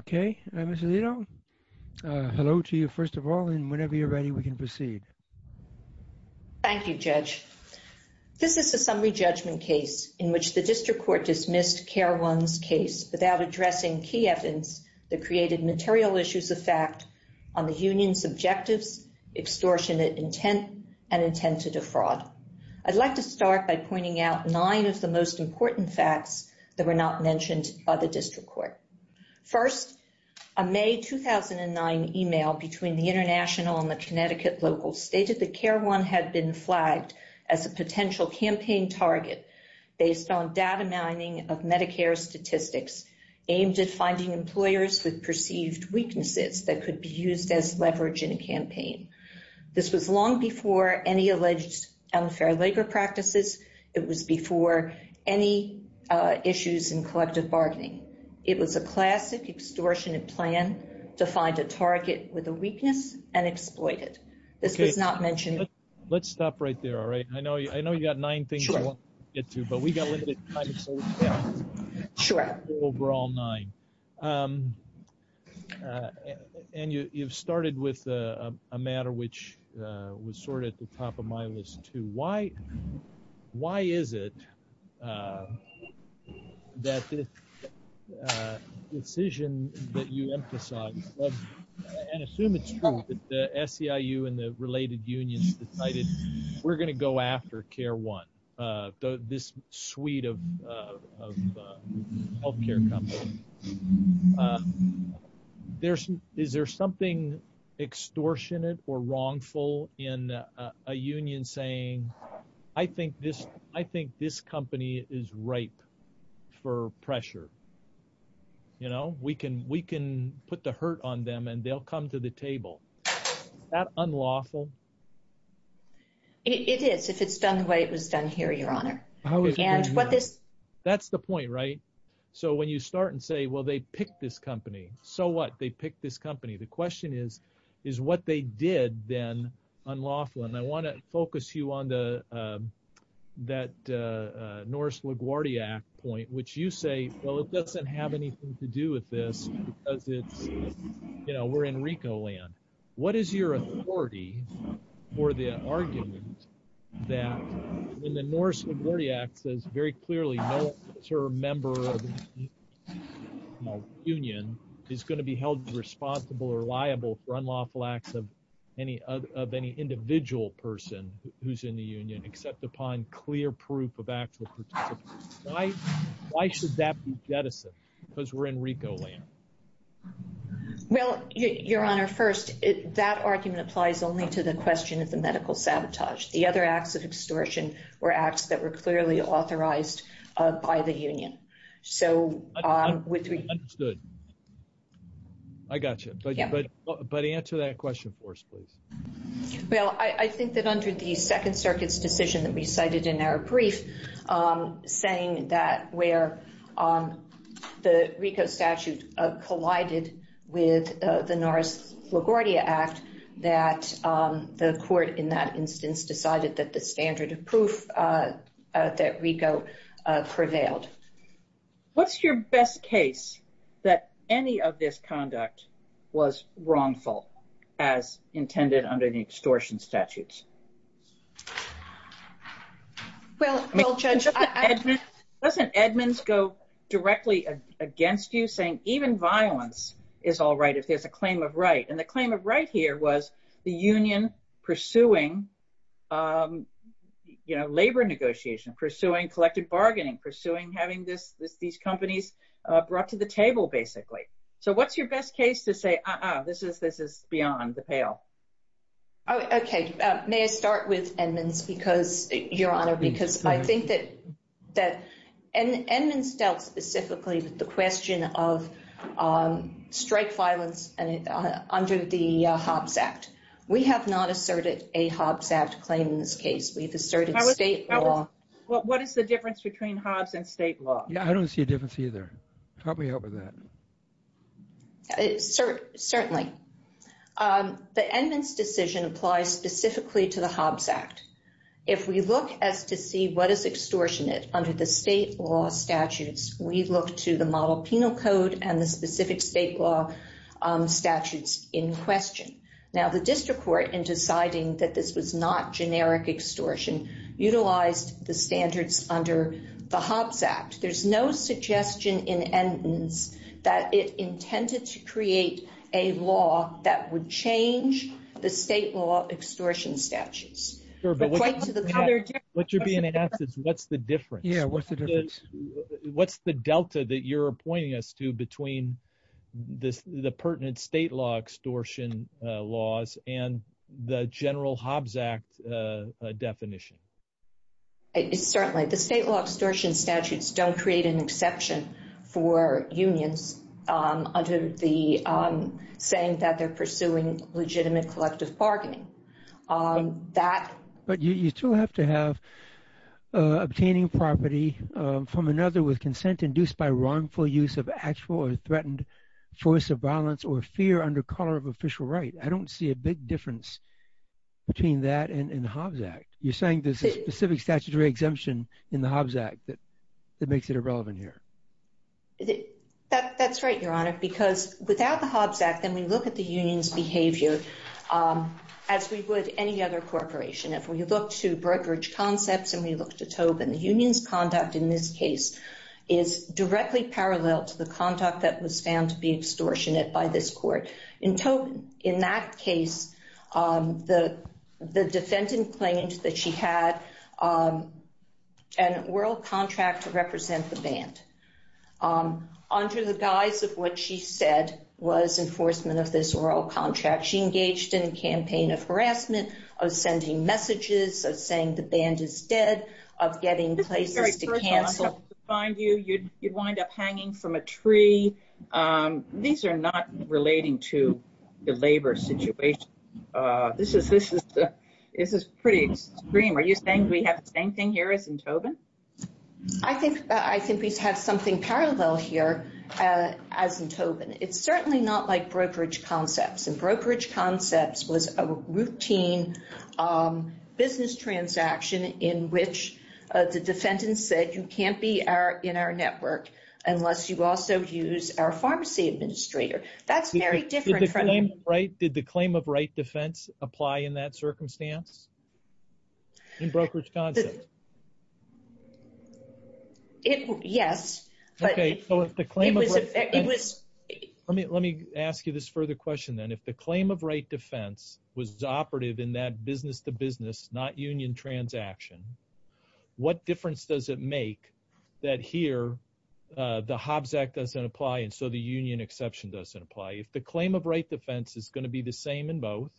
Okay, Ms. Alito, hello to you first of all and whenever you're ready we can proceed. Thank you, Judge. This is a summary judgment case in which the district court dismissed Care One's case without addressing key evidence that created material issues of fact on the union's objectives, extortionate intent, and intent to defraud. I'd like to start by pointing out nine of the most May 2009 email between the International and the Connecticut locals stated that Care One had been flagged as a potential campaign target based on data mining of Medicare statistics aimed at finding employers with perceived weaknesses that could be used as leverage in a campaign. This was long before any alleged unfair labor practices. It was before any issues in collective bargaining. It was a classic extortionate plan to find a target with a weakness and exploit it. This was not mentioned. Let's stop right there, all right? I know you got nine things to get to, but we got limited time. Sure. Overall nine. And you've started with a matter which was sort of at the top of my list too. Why is it that the decision that you emphasize, and assume it's true, that the SEIU and the related unions decided we're going to go after Care One, this suite of healthcare companies? Is there something extortionate or wrongful in a union saying, I think this company is ripe for pressure? We can put the hurt on them and they'll come to the table. Is that unlawful? It is, if it's done the way it was done here, your honor. That's the point, right? So when you start and say, well, they picked this company, so what? They picked this company. The question is, is what they did then unlawful? And I want to focus you on that Norris LaGuardia point, which you say, well, it doesn't have anything to do with this because it's, you know, we're in Rico land. What is your authority for the argument that when the Norris LaGuardia says very clearly, no member of the union is going to be held responsible or liable for unlawful acts of any individual person who's in the union, except upon clear proof of actual participants. Why should that be jettisoned? Because we're in Rico land. Well, your honor, first, that argument applies only to the question of the medical sabotage. The other acts of extortion were acts that were clearly authorized by the union. So I gotcha. But answer that question for us, please. Well, I think that under the second circuit's decision that we cited in our brief, saying that where the Rico statute collided with the Norris LaGuardia act, that the court in that instance decided that the standard of proof that Rico prevailed. What's your best case that any of this conduct was wrongful as intended under the extortion statutes? Well, Judge, doesn't Edmonds go directly against you saying even violence is all right, if there's a claim of right. And the claim of right here was the union pursuing, you know, labor negotiation, pursuing collective bargaining, pursuing having this, these companies brought to the table, basically. So what's your best case to say, uh-uh, this is beyond the pale? Oh, okay. May I start with Edmonds? Because, your honor, because I think that Edmonds dealt specifically with the question of strike violence under the Hobbs Act. We have not asserted a Hobbs Act claim in this case. We've asserted state law. Well, what is the difference between Hobbs and state law? Yeah, I don't see a difference either. Help me out with that. Certainly. The Edmonds decision applies specifically to the Hobbs Act. If we look as to see what is extortionate under the state law statutes, we look to the model penal code and the specific state law statutes in question. Now, the district court, in deciding that this was not that it intended to create a law that would change the state law extortion statutes. What you're being asked is, what's the difference? Yeah, what's the difference? What's the delta that you're pointing us to between the pertinent state law extortion laws and the general Hobbs Act definition? Certainly. The state law extortion statutes don't create an exemption for unions under the saying that they're pursuing legitimate collective bargaining. But you still have to have obtaining property from another with consent induced by wrongful use of actual or threatened force of violence or fear under color of official right. I don't see a big difference between that and Hobbs Act. You're saying there's a specific statutory exemption in the Hobbs Act that makes it irrelevant here. That's right, Your Honor, because without the Hobbs Act, then we look at the union's behavior as we would any other corporation. If we look to brokerage concepts and we look to Tobin, the union's conduct in this case is directly parallel to the conduct that was found to be extortionate by this court. In Tobin, in that case, the defendant claimed that she had an oral contract to represent the band under the guise of what she said was enforcement of this oral contract. She engaged in a campaign of harassment, of sending messages, of saying the band is dead, of getting places to the labor situation. This is pretty extreme. Are you saying we have the same thing here as in Tobin? I think we have something parallel here as in Tobin. It's certainly not like brokerage concepts, and brokerage concepts was a routine business transaction in which the defendant said, you can't be in our network unless you also use our pharmacy administrator. That's very different. Did the claim of right defense apply in that circumstance, in brokerage concepts? Yes. Let me ask you this further question then. If the claim of right defense was operative in that business-to-business, not union transaction, what difference does it make that here the Hobbs Act doesn't apply and so the union exception doesn't apply? If the claim of right defense is going to be the same in both,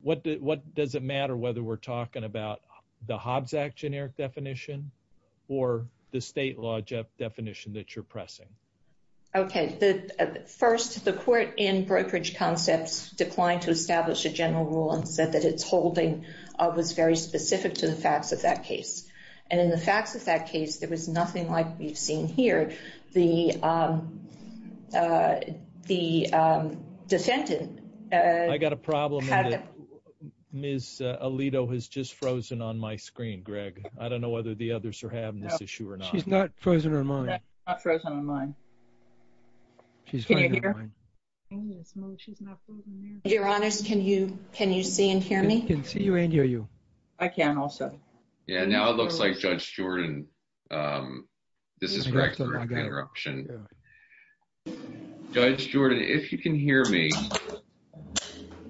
what does it matter whether we're talking about the Hobbs Act generic definition or the state law definition that you're pressing? Okay. First, the court in brokerage concepts declined to establish a general rule and said its holding was very specific to the facts of that case. In the facts of that case, there was nothing like we've seen here. The defendant- I got a problem. Ms. Alito has just frozen on my screen, Greg. I don't know whether the others are having this issue or not. She's not frozen on you. I can also. Yeah, now it looks like Judge Jordan, this is Greg. Judge Jordan, if you can hear me,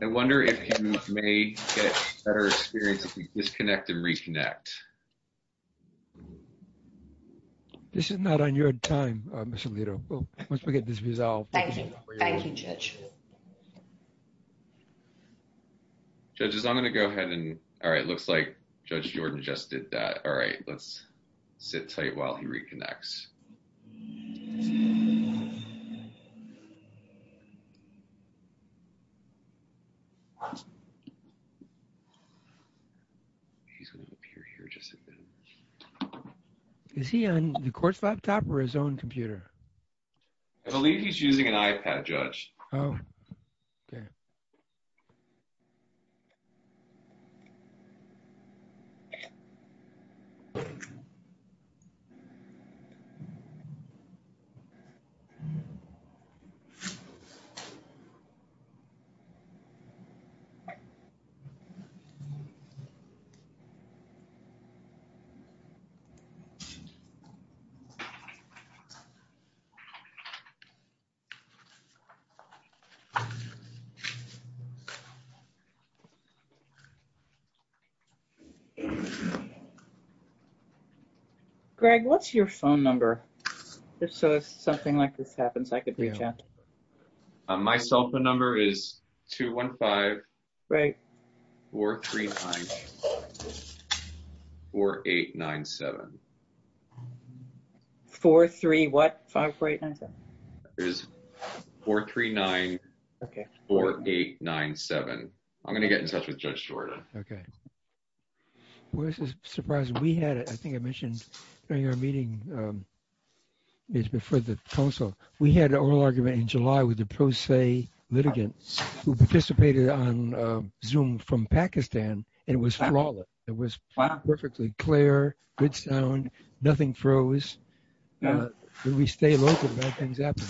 I wonder if you may get better experience if we disconnect and reconnect. This is not on your time, Ms. Alito. Once we get this resolved. Thank you. Thank you, Judge. Judges, I'm going to go ahead and- all right, it looks like Judge Jordan just did that. All right, let's sit tight while he reconnects. He's going to appear here just a bit. Is he on the court's laptop or his own computer? I believe he's using an iPad, Judge. Greg, what's your phone number? If something like this happens, I could reach out. My cell phone number is 215-439-4897. 4-3-what? 5-4-8-9-7. It's 439-4897. I'm going to get in touch with Judge Jordan. Okay. Well, this is surprising. We had, I think I mentioned during our meeting, it was before the council, we had an oral argument in July with the pro se litigants who participated on Zoom from Pakistan, and it was flawless. It was perfectly clear, good sound, nothing froze. We stay local, bad things happen.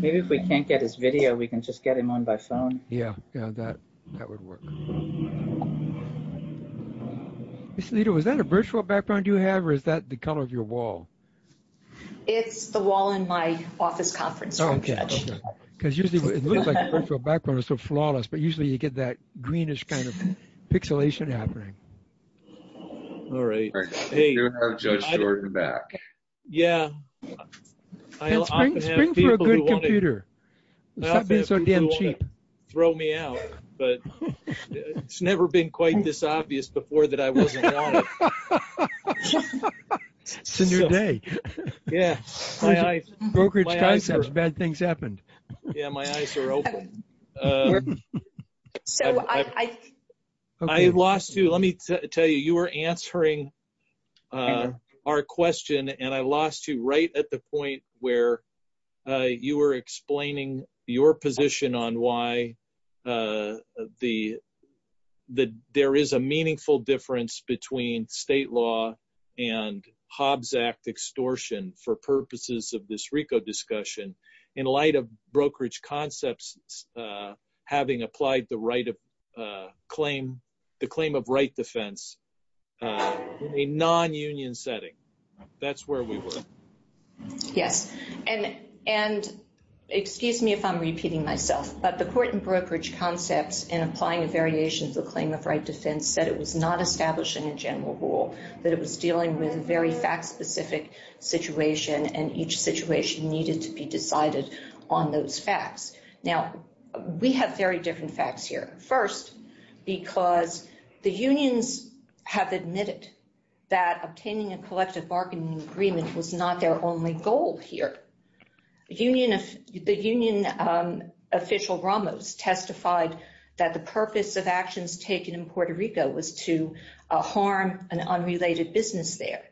Maybe if we can't get his video, we can just get him on by phone. Yeah, that would work. Ms. Lito, is that a virtual background you have, or is that the color of your wall? It's the wall in my office conference room, Judge. Because usually, it looks like a virtual background is so flawless, but usually you get that greenish kind of pixelation happening. All right. I do have Judge Jordan back. Yeah. And spring for a good computer. Stop being so damn cheap. Throw me out, but it's never been quite this obvious before that I wasn't on it. It's a new day. Yeah. Brokerage concepts, bad things happened. Yeah, my eyes are open. I lost you. Let me tell you, you were answering our question, and I lost you right at the point where you were explaining your position on why there is a meaningful difference between state law and Hobbs Act extortion for purposes of this RICO discussion in light of brokerage concepts having applied the claim of right defense in a non-union setting. That's where we were. Yes. And excuse me if I'm repeating myself, but the court in brokerage concepts in applying a variation of the claim of right defense said it was not establishing a general rule, that it was dealing with a very fact-specific situation, and each situation needed to be Now, we have very different facts here. First, because the unions have admitted that obtaining a collective bargaining agreement was not their only goal here. The union official Ramos testified that the purpose of actions taken in Puerto Rico was to harm an unrelated business there.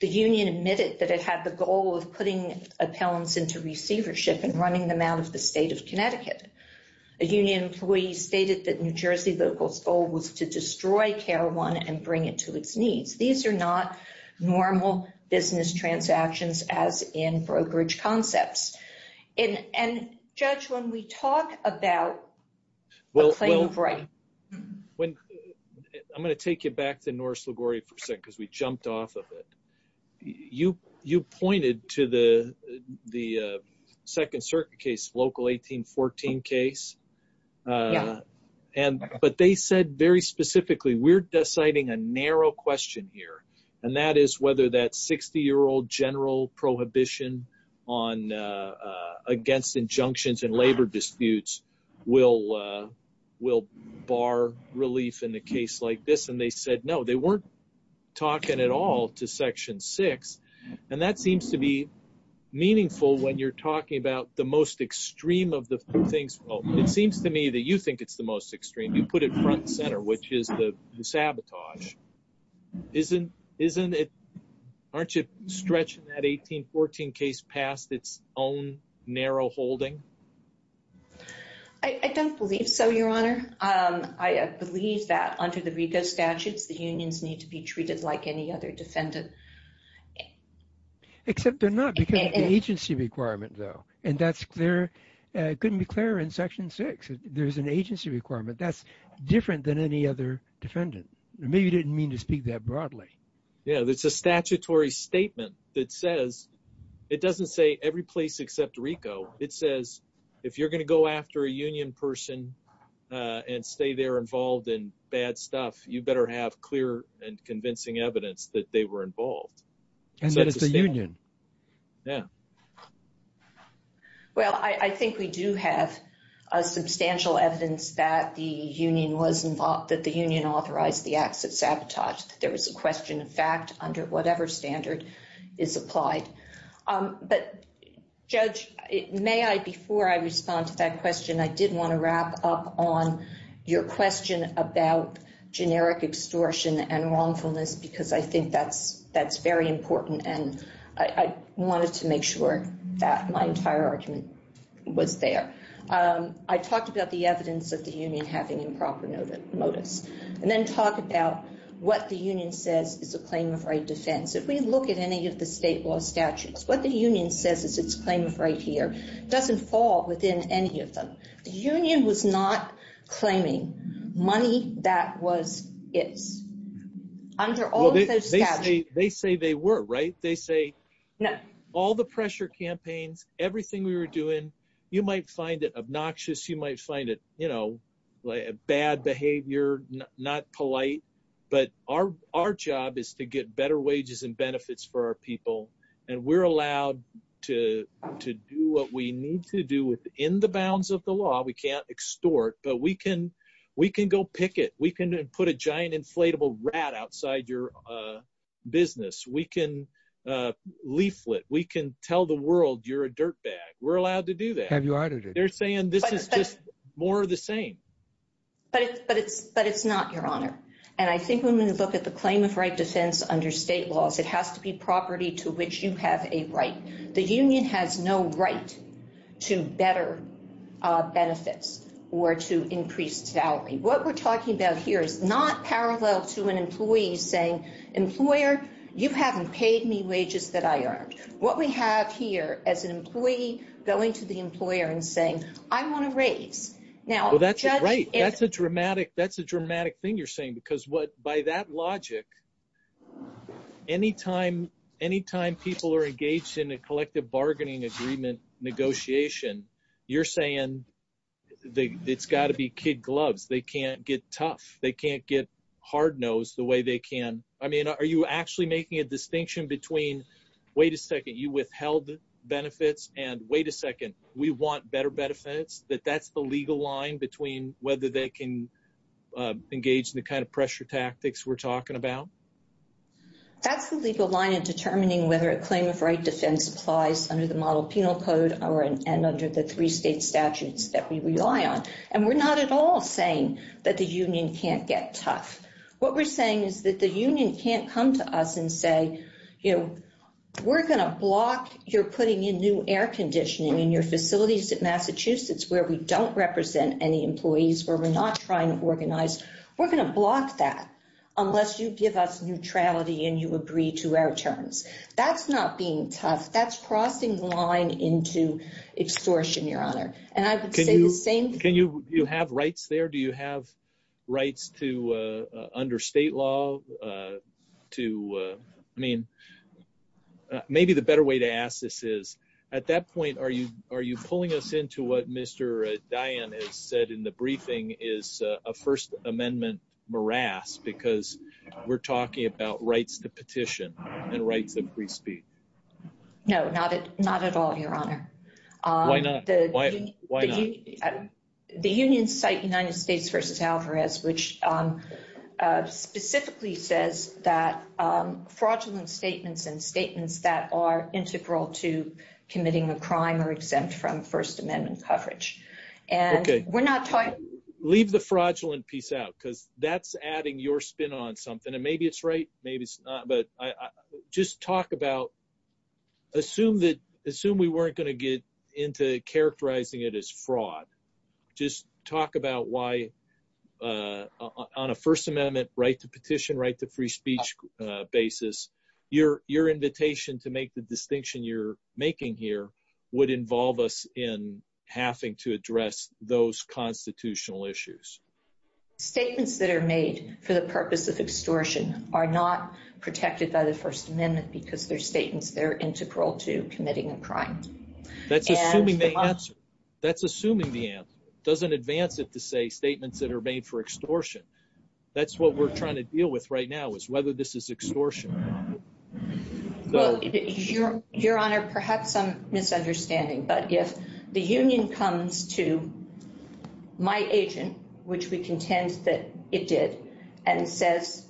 The union admitted that it had the goal of putting appellants into receivership and running them out of the state of Connecticut. A union employee stated that New Jersey locals' goal was to destroy Carowind and bring it to its knees. These are not normal business transactions as in brokerage concepts. And, Judge, when we talk about the claim of right. I'm going to take you back to Norris LaGuardia for a second because we jumped off of it. You pointed to the second circuit case, local 1814 case. But they said very specifically, we're deciding a narrow question here, and that is whether that 60-year-old general prohibition against injunctions in labor disputes will bar relief in a case like this. They said no. They weren't talking at all to Section 6. That seems to be meaningful when you're talking about the most extreme of the things. It seems to me that you think it's the most extreme. You put it front and center, which is the sabotage. Aren't you stretching that 1814 case past its own narrow holding? I don't believe so, Your Honor. I believe that under the RICO statutes, the unions need to be treated like any other defendant. Except they're not because of the agency requirement, though. And that's clear. It couldn't be clearer in Section 6. There's an agency requirement. That's different than any other defendant. Maybe you didn't mean to speak that broadly. Yeah, it's a statutory statement that says, it doesn't say every place except RICO. It says if you're going to go after a union person and stay there involved in bad stuff, you better have clear and convincing evidence that they were involved. And that it's a union. Yeah. Well, I think we do have substantial evidence that the union was involved, that the union authorized the acts of sabotage. There was a question of fact under whatever standard is applied. But, Judge, may I, before I respond to that question, I did want to wrap up on your question about generic extortion and wrongfulness, because I think that's very important. And I wanted to make sure that my entire argument was there. I talked about the evidence of the union having improper motives. And then talk about what the union says is a claim of right defense. If we look at any of the state law statutes, what the union says is its claim of right here, doesn't fall within any of them. The union was not claiming money that was its, under all of those statutes. They say they were, right? They say all the pressure campaigns, everything we were doing, you might find it obnoxious. You might find it bad behavior, not polite. But our job is to get better wages and benefits for our people. And we're allowed to do what we need to do within the bounds of the law. We can't extort, but we can go picket. We can put a giant inflatable rat outside your business. We can leaflet. We can tell the world you're a dirtbag. We're allowed to do that. Have you heard of it? But it's not, Your Honor. I think when we look at the claim of right defense under state laws, it has to be property to which you have a right. The union has no right to better benefits or to increased salary. What we're talking about here is not parallel to an employee saying, employer, you haven't paid me wages that I earned. What we have here is an employee going to the employer and saying, I want a raise. Well, that's right. That's a dramatic thing you're saying. Because by that logic, anytime people are engaged in a collective bargaining agreement negotiation, you're saying it's got to be kid gloves. They can't get tough. They can't get hard-nosed the way they can. I mean, are you actually making a distinction between, wait a second, you withheld benefits and, wait a second, we want better benefits, that that's the legal line between whether they can engage in the kind of pressure tactics we're talking about? That's the legal line in determining whether a claim of right defense applies under the Model Penal Code and under the three state statutes that we rely on. And we're not at all saying that the union can't get tough. What we're saying is that the union can't come to us and say, you know, we're going to block your putting in new air conditioning in your facilities at Massachusetts where we don't represent any employees, where we're not trying to organize. We're going to block that unless you give us neutrality and you agree to our terms. That's not being tough. That's crossing the line into extortion, Your Honor. And I would say the same. Can you have rights there? Do you have rights to, under state law, to, I mean, maybe the better way to ask this is, at that point, are you pulling us into what Mr. Diane has said in the briefing is a First Amendment morass because we're talking about rights to petition and rights of free speech? No, not at all, Your Honor. Why not? Why not? The union's site, United States versus Alvarez, which specifically says that fraudulent statements and statements that are integral to committing a crime are exempt from First Amendment coverage. And we're not talking— Leave the fraudulent piece out because that's adding your spin on something. And maybe it's right, maybe it's not. Just talk about—assume we weren't going to get into characterizing it as fraud. Just talk about why, on a First Amendment right to petition, right to free speech basis, your invitation to make the distinction you're making here would involve us in having to address those constitutional issues. Statements that are made for the purpose of extortion are not protected by the First Amendment because they're statements that are integral to committing a crime. That's assuming the answer. That's assuming the answer. It doesn't advance it to say statements that are made for extortion. That's what we're trying to deal with right now is whether this is extortion. Well, Your Honor, perhaps some misunderstanding, but if the union comes to my agent, which we contend that it did, and says,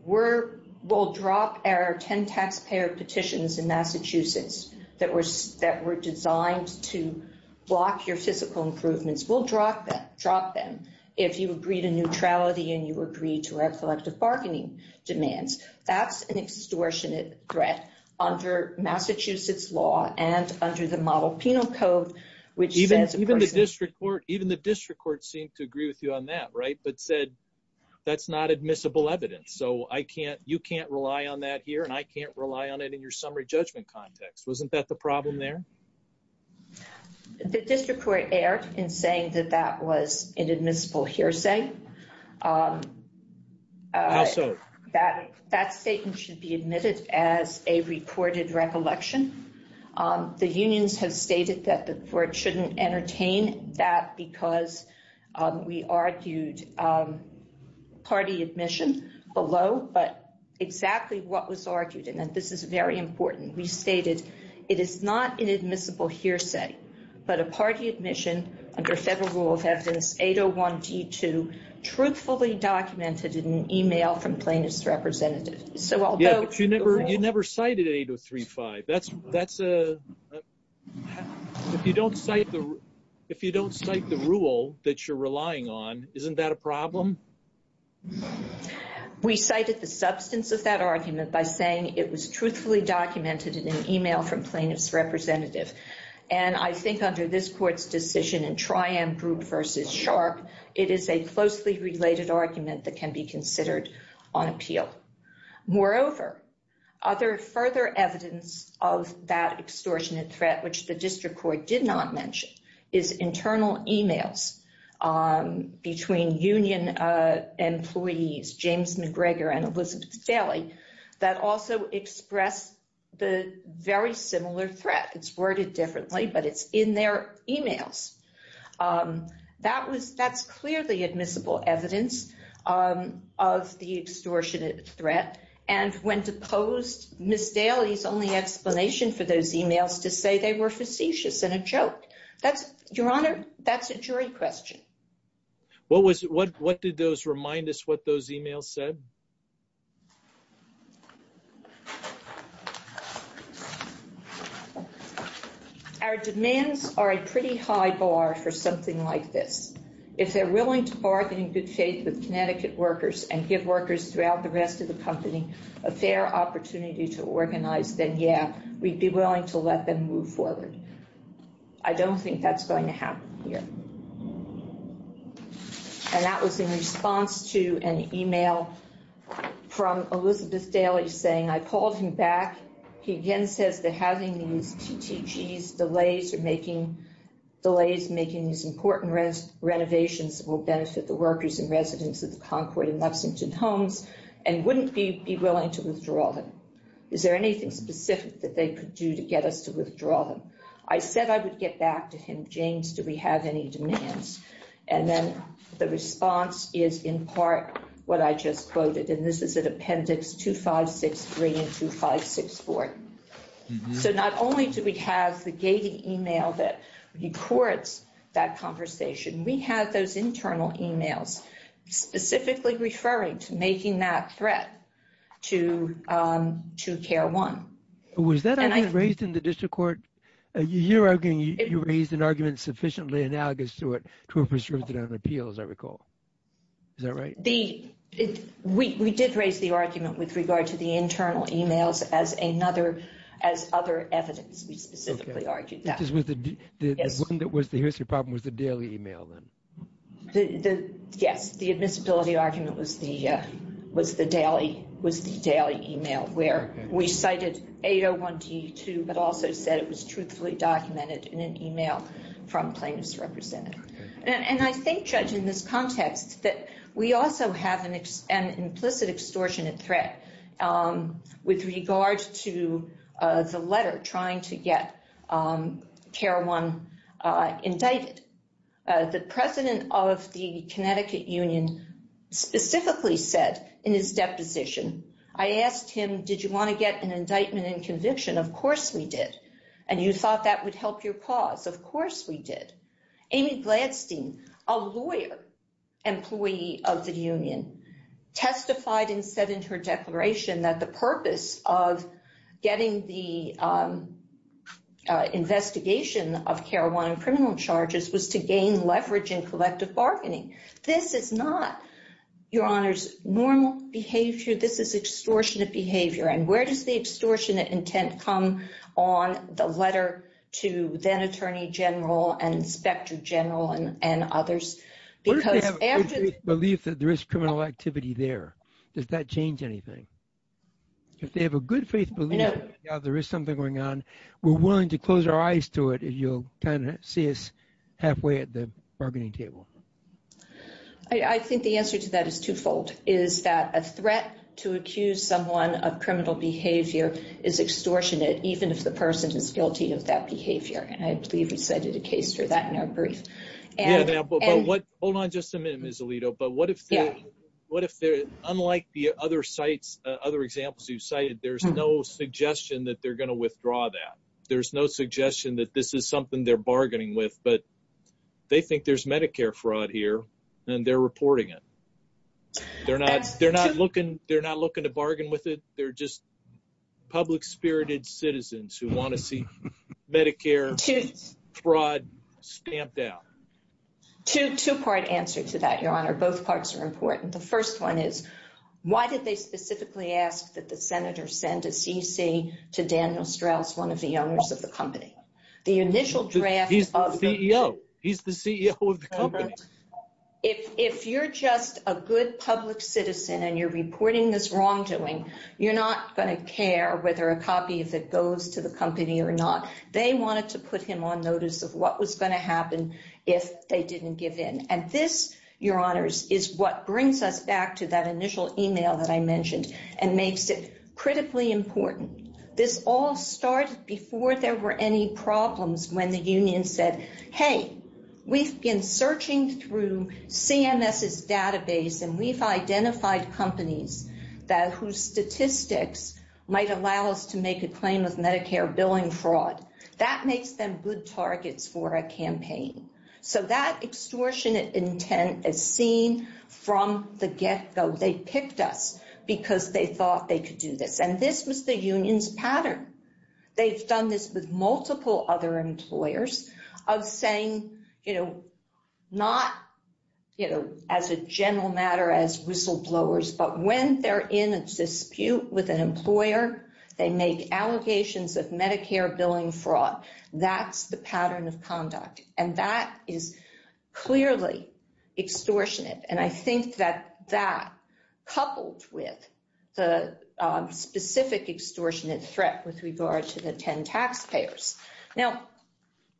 we'll drop our 10 taxpayer petitions in Massachusetts that were designed to block your fiscal improvements. We'll drop them if you agree to neutrality and you agree to our collective bargaining demands. That's an extortionate threat under Massachusetts law and under the Model Penal Code, which says— even the district court seemed to agree with you on that, right? But said, that's not admissible evidence. So you can't rely on that here and I can't rely on it in your summary judgment context. Wasn't that the problem there? The district court erred in saying that that was an admissible hearsay. How so? That statement should be admitted as a reported recollection. The unions have stated that the court shouldn't entertain that because we argued party admission below. But exactly what was argued, and this is very important, we stated, it is not an admissible hearsay, but a party admission under federal rule of evidence 801D2 truthfully documented in an email from plaintiff's representative. Yeah, but you never cited 803.5. If you don't cite the rule that you're relying on, isn't that a problem? We cited the substance of that argument by saying it was truthfully documented in an email from plaintiff's representative. And I think under this court's decision in Triumph Group v. Sharpe, it is a closely related argument that can be considered on appeal. Moreover, other further evidence of that extortionate threat, which the district court did not mention, is internal emails between union employees, James McGregor and Elizabeth Daley, that also express the very similar threat. It's worded differently, but it's in their emails. That's clearly admissible evidence of the extortionate threat. And when deposed, Ms. Daley's only explanation for those emails to say they were facetious and a joke. Your Honor, that's a jury question. What did those remind us what those emails said? Our demands are a pretty high bar for something like this. If they're willing to bargain in good faith with Connecticut workers and give workers throughout the rest of the company a fair opportunity to organize, then yeah, we'd be willing to let them move forward. I don't think that's going to happen here. And that was in response to an email from Elizabeth Daley saying, I called him back. He again says that having these TTGs, delays making these important renovations, will benefit the workers and residents of the Concord and Lexington homes and wouldn't be willing to withdraw them. Is there anything specific that they could do to get us to withdraw them? I said I would get back to him. James, do we have any demands? And then the response is in part what I just quoted. And this is an appendix 2563 and 2564. So not only do we have the gated email that records that conversation, we have those internal emails specifically referring to making that threat to CARE 1. Was that raised in the district court? You're arguing you raised an argument sufficiently analogous to it to a prescription on appeals, I recall. Is that right? We did raise the argument with regard to the internal emails as another, as other evidence. We specifically argued that. Which is with the one that was the history problem was the Daley email then? Yes, the admissibility argument was the Daley email where we cited 801T2, but also said it was truthfully documented in an email from plaintiffs' representative. And I think, Judge, in this context that we also have an implicit extortionate threat with regard to the letter trying to get CARE 1 indicted. The president of the Connecticut union specifically said in his deposition, I asked him, did you want to get an indictment and conviction? Of course we did. And you thought that would help your cause? Of course we did. Amy Gladstein, a lawyer, employee of the union, testified and said in her declaration that the purpose of getting the investigation of CARE 1 and criminal charges was to gain leverage in collective bargaining. This is not, Your Honors, normal behavior. This is extortionate behavior. And where does the extortionate intent come on the letter to then Attorney General and Inspector General and others? Where do they have a good faith belief that there is criminal activity there? Does that change anything? If they have a good faith belief that there is something going on, we're willing to close our eyes to it. You'll kind of see us halfway at the bargaining table. I think the answer to that is twofold. Is that a threat to accuse someone of criminal behavior is extortionate, even if the person is guilty of that behavior. And I believe we cited a case for that in our brief. Hold on just a minute, Ms. Alito. But what if they're, unlike the other sites, other examples you've cited, there's no suggestion that they're going to withdraw that. There's no suggestion that this is something they're bargaining with, but they think there's Medicare fraud here and they're reporting it. They're not looking to bargain with it. They're just public-spirited citizens who want to see Medicare fraud stamped out. Two-part answer to that, Your Honor. Both parts are important. The first one is, why did they specifically ask that the senator send a CC to Daniel Strauss, one of the owners of the company? The initial draft of the- He's the CEO. He's the CEO of the company. If you're just a good public citizen and you're reporting this wrongdoing, you're not going to care whether a copy of it goes to the company or not. They wanted to put him on notice of what was going to happen if they didn't give in. And this, Your Honors, is what brings us back to that initial email that I mentioned and makes it critically important. This all started before there were any problems when the union said, hey, we've been searching through CMS's database and we've identified companies whose statistics might allow us to make a claim with Medicare billing fraud. That makes them good targets for a campaign. So that extortionate intent is seen from the get-go. They picked us because they thought they could do this. And this was the union's pattern. They've done this with multiple other employers of saying, not as a general matter, as whistleblowers, but when they're in a dispute with an employer, they make allegations of Medicare billing fraud. That's the pattern of conduct. And that is clearly extortionate. And I think that that, coupled with the specific extortionate threat with regard to the 10 taxpayers. Now,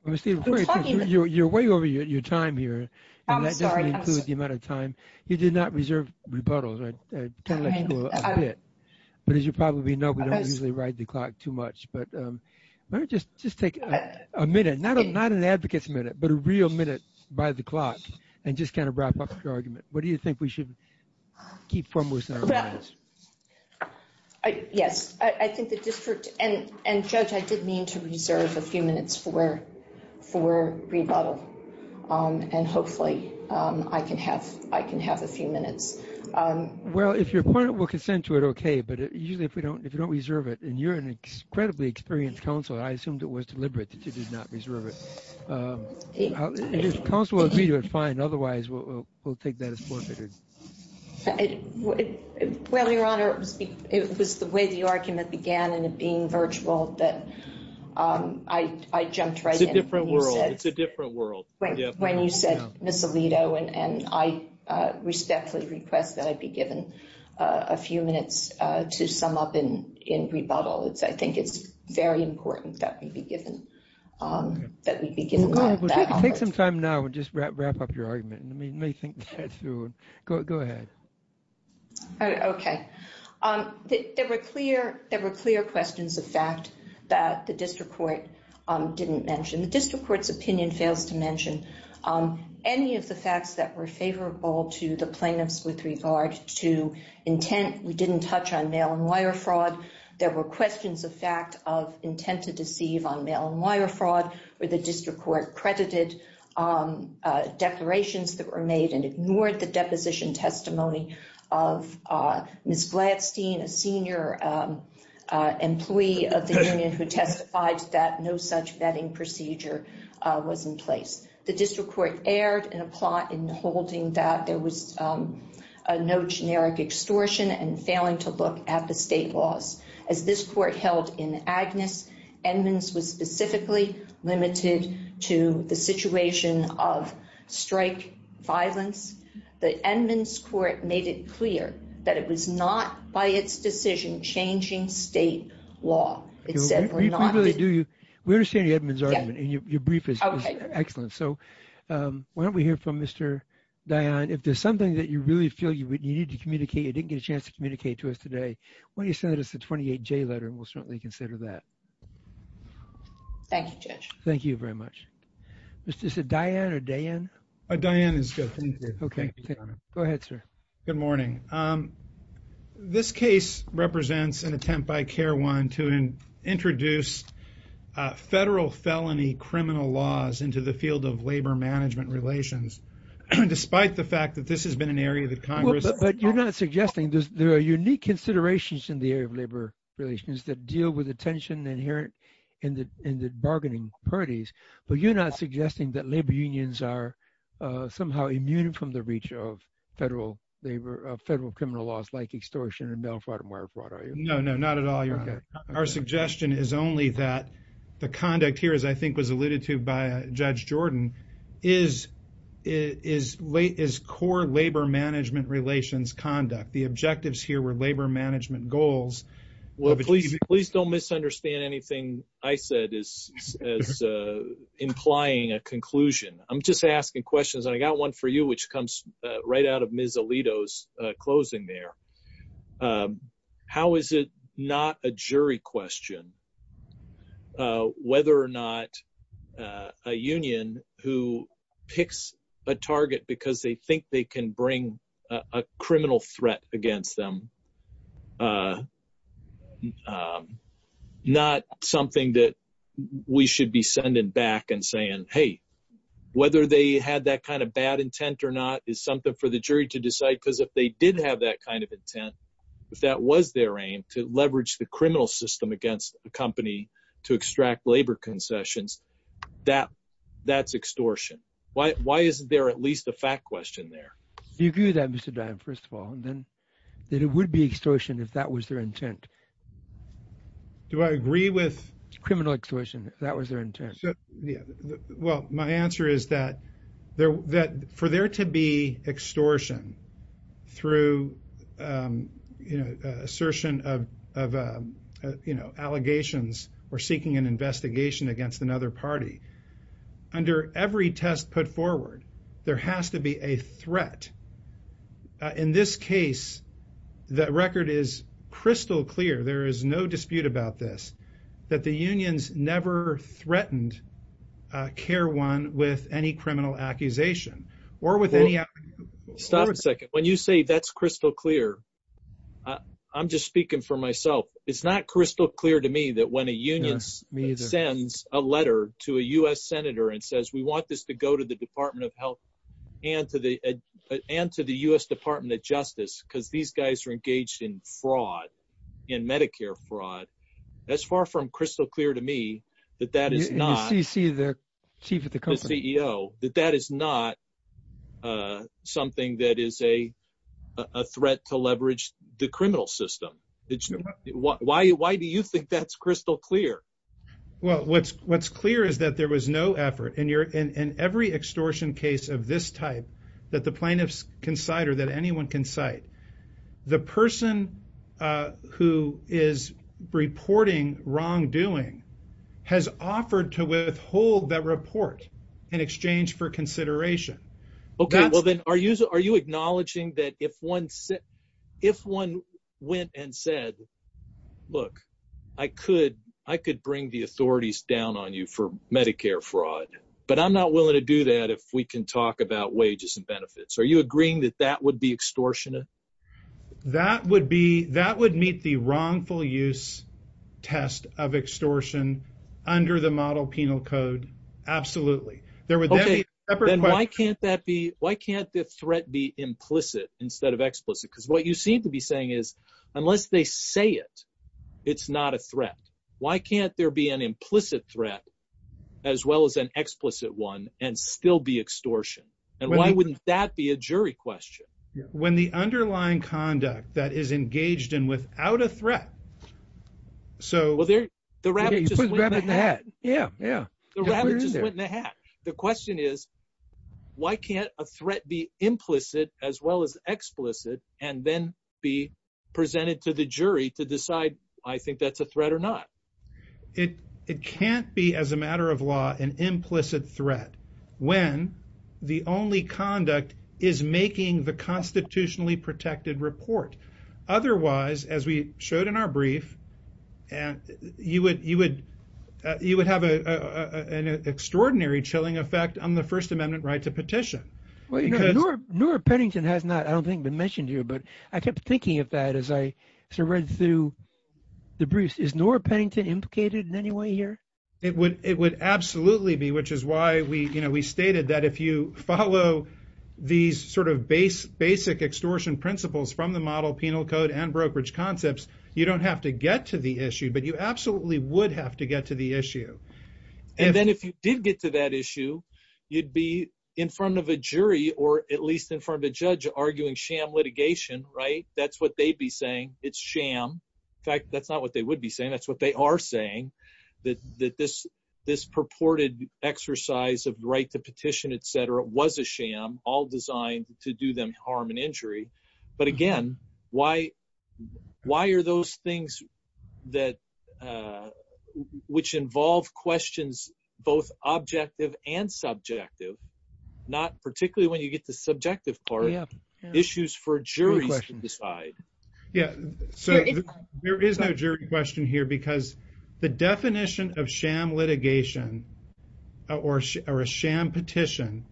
I'm talking about- You're way over your time here. I'm sorry. And that doesn't include the amount of time. You did not reserve rebuttals. I kind of let you go a bit. But as you probably know, we don't usually ride the clock too much. But let me just take a minute, not an advocate's minute, but a real minute by the clock, and just kind of wrap up your argument. What do you think we should keep foremost in our minds? Yes, I think the district- And Judge, I did mean to reserve a few minutes for rebuttal. And hopefully, I can have a few minutes. Well, if you're appointed, we'll consent to it, okay. But usually, if we don't reserve it, and you're an incredibly experienced counsel, I assumed it was deliberate that you did not reserve it. If counsel will agree to it, fine. Otherwise, we'll take that as forfeited. Well, Your Honor, it was the way the argument began, and it being virtual, that I jumped right in. It's a different world. It's a different world. When you said, Ms. Alito, and I respectfully request that I be given a few minutes to sum up in rebuttal. I think it's very important that we be given- That we be given that opportunity. Take some time now and just wrap up your argument. And let me think this through. Go ahead. Okay. There were clear questions of fact that the district court didn't mention. The district court's opinion fails to mention any of the facts that were favorable to the plaintiffs with regard to intent. We didn't touch on mail and wire fraud. There were questions of fact of intent to deceive on mail and wire fraud, where the district court credited declarations that were made and ignored the deposition testimony of Ms. Gladstein, a senior employee of the union who testified that no such vetting procedure was in place. The district court erred in holding that there was no generic extortion and failing to look at the state laws. As this court held in Agnes, Edmonds was specifically limited to the situation of strike violence. The Edmonds court made it clear that it was not by its decision changing state law. It said we're not- Briefly, do you- We understand the Edmonds argument and your brief is excellent. So why don't we hear from Mr. Dionne. If there's something that you really feel you would need to communicate, you didn't get a chance to communicate to us today, why don't you send us a 28J letter and we'll certainly consider that. Thank you, Judge. Thank you very much. Mr. Dionne or Dayan? Dionne is good. Go ahead, sir. Good morning. This case represents an attempt by CARE 1 to introduce federal felony criminal laws into the field of labor management relations. Despite the fact that this has been an area that Congress- But you're not suggesting, there are unique considerations in the area of labor relations that deal with the tension inherent in the bargaining parties, but you're not suggesting that labor unions are somehow immune from the reach of federal labor, federal criminal laws like extortion and mail fraud and wire fraud, are you? No, no, not at all. Our suggestion is only that the conduct here, as I think was alluded to by Judge Jordan, is core labor management relations conduct. The objectives here were labor management goals. Well, please don't misunderstand anything I said as implying a conclusion. I'm just asking questions, and I got one for you, which comes right out of Ms. Alito's closing there. How is it not a jury question whether or not a union who picks a target because they think they can bring a criminal threat against them is not something that we should be sending back and saying, hey, whether they had that kind of bad intent or not is something for the jury to decide, because if they did have that kind of intent, if that was their aim, to leverage the criminal system against the company to extract labor concessions, that's extortion. Why isn't there at least a fact question there? You agree with that, Mr. Dian, first of all, and then that it would be extortion if that was their intent. Do I agree with? Criminal extortion, if that was their intent. Well, my answer is that for there to be extortion through assertion of allegations or seeking an investigation against another party, under every test put forward, there has to be a threat. And in this case, the record is crystal clear, there is no dispute about this, that the unions never threatened Care One with any criminal accusation or with any... Stop a second. When you say that's crystal clear, I'm just speaking for myself. It's not crystal clear to me that when a union sends a letter to a U.S. senator and says we want this to go to the Department of Health and to the U.S. Department of Justice because these guys are engaged in fraud, in Medicare fraud, that's far from crystal clear to me that that is not- You see the chief of the company. The CEO, that that is not something that is a threat to leverage the criminal system. Why do you think that's crystal clear? Well, what's clear is that there was no effort. In every extortion case of this type that the plaintiffs can cite or that anyone can cite, the person who is reporting wrongdoing has offered to withhold that report in exchange for consideration. Okay, well then are you acknowledging that if one went and said, look, I could bring the authorities down on you for Medicare fraud, but I'm not willing to do that if we can talk about wages and benefits. Are you agreeing that that would be extortionate? That would meet the wrongful use test of extortion under the model penal code. Absolutely. Why can't the threat be implicit instead of explicit? Because what you seem to be saying is unless they say it, it's not a threat. Why can't there be an implicit threat as well as an explicit one and still be extortion? And why wouldn't that be a jury question? When the underlying conduct that is engaged in without a threat, so- Well, the rabbit just went in the hat. Yeah, yeah. The rabbit just went in the hat. The question is, why can't a threat be implicit as well as explicit and then be presented to the jury to decide I think that's a threat or not? It can't be as a matter of law, an implicit threat when the only conduct is making the constitutionally protected report. Otherwise, as we showed in our brief, you would have an extraordinary chilling effect on the First Amendment right to petition. Well, you know, Norah Pennington has not, I don't think, been mentioned here, but I kept thinking of that as I read through the briefs. Is Norah Pennington implicated in any way here? It would absolutely be, which is why we stated that if you follow these sort of basic extortion principles from the model penal code and brokerage concepts, you don't have to get to the issue, but you absolutely would have to get to the issue. And then if you did get to that issue, you'd be in front of a jury or at least in front of a judge arguing sham litigation, right? It's sham. In fact, that's not what they would be saying. That's what they are saying, that this purported exercise of right to petition, et cetera, was a sham all designed to do them harm and injury. But again, why are those things which involve questions, both objective and subjective, not particularly when you get the subjective part, issues for juries to decide. Yeah, so there is no jury question here because the definition of sham litigation or a sham petition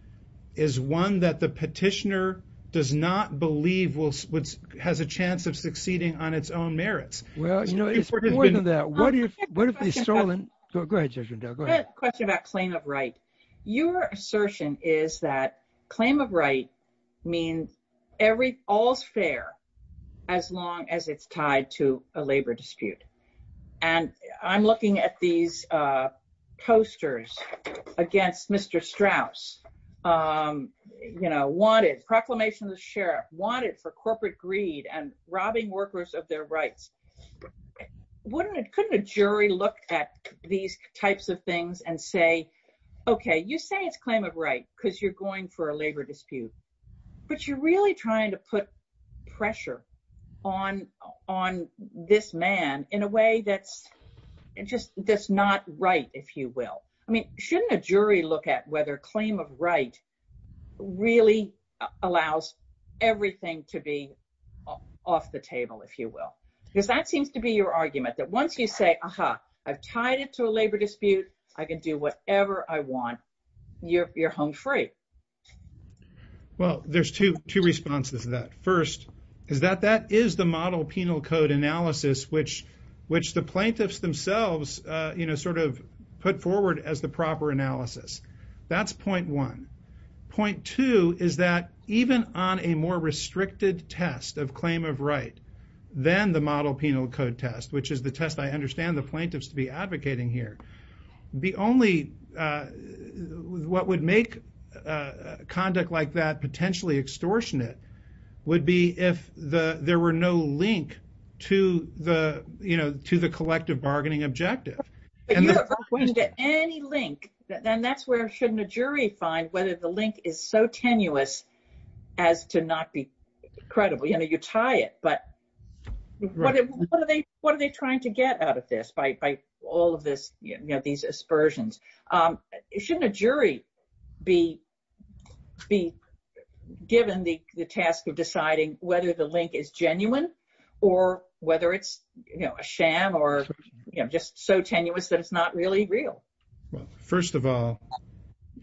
is one that the petitioner does not believe has a chance of succeeding on its own merits. Well, you know, it's more than that. What if it's stolen? Go ahead, Judge Rendell, go ahead. I have a question about claim of right. Your assertion is that claim of right means all's fair as long as it's tied to a labor dispute. And I'm looking at these posters against Mr. Strauss, you know, wanted, proclamation of the sheriff, wanted for corporate greed and robbing workers of their rights. Couldn't a jury look at these types of things and say, okay, you say it's claim of right because you're going for a labor dispute, but you're really trying to put pressure on this man in a way that's just, that's not right, if you will. I mean, shouldn't a jury look at whether claim of right really allows everything to be off the table, if you will? Because that seems to be your argument, that once you say, aha, I've tied it to a labor dispute, I can do whatever I want, you're home free. Well, there's two responses to that. First is that that is the model penal code analysis, which the plaintiffs themselves, you know, sort of put forward as the proper analysis. That's point one. Point two is that even on a more restricted test of claim of right than the model penal code test, which is the test I understand the plaintiffs to be advocating here, the only, what would make conduct like that potentially extortionate would be if there were no link to the, you know, to the collective bargaining objective. But you're not pointing to any link, and that's where shouldn't a jury find whether the link is so tenuous as to not be credible. You know, you tie it, but what are they trying to get out of this by all of this, you know, these aspersions? Shouldn't a jury be given the task of deciding whether the link is genuine or whether it's, you know, a sham or, you know, just so tenuous that it's not really real. Well, first of all,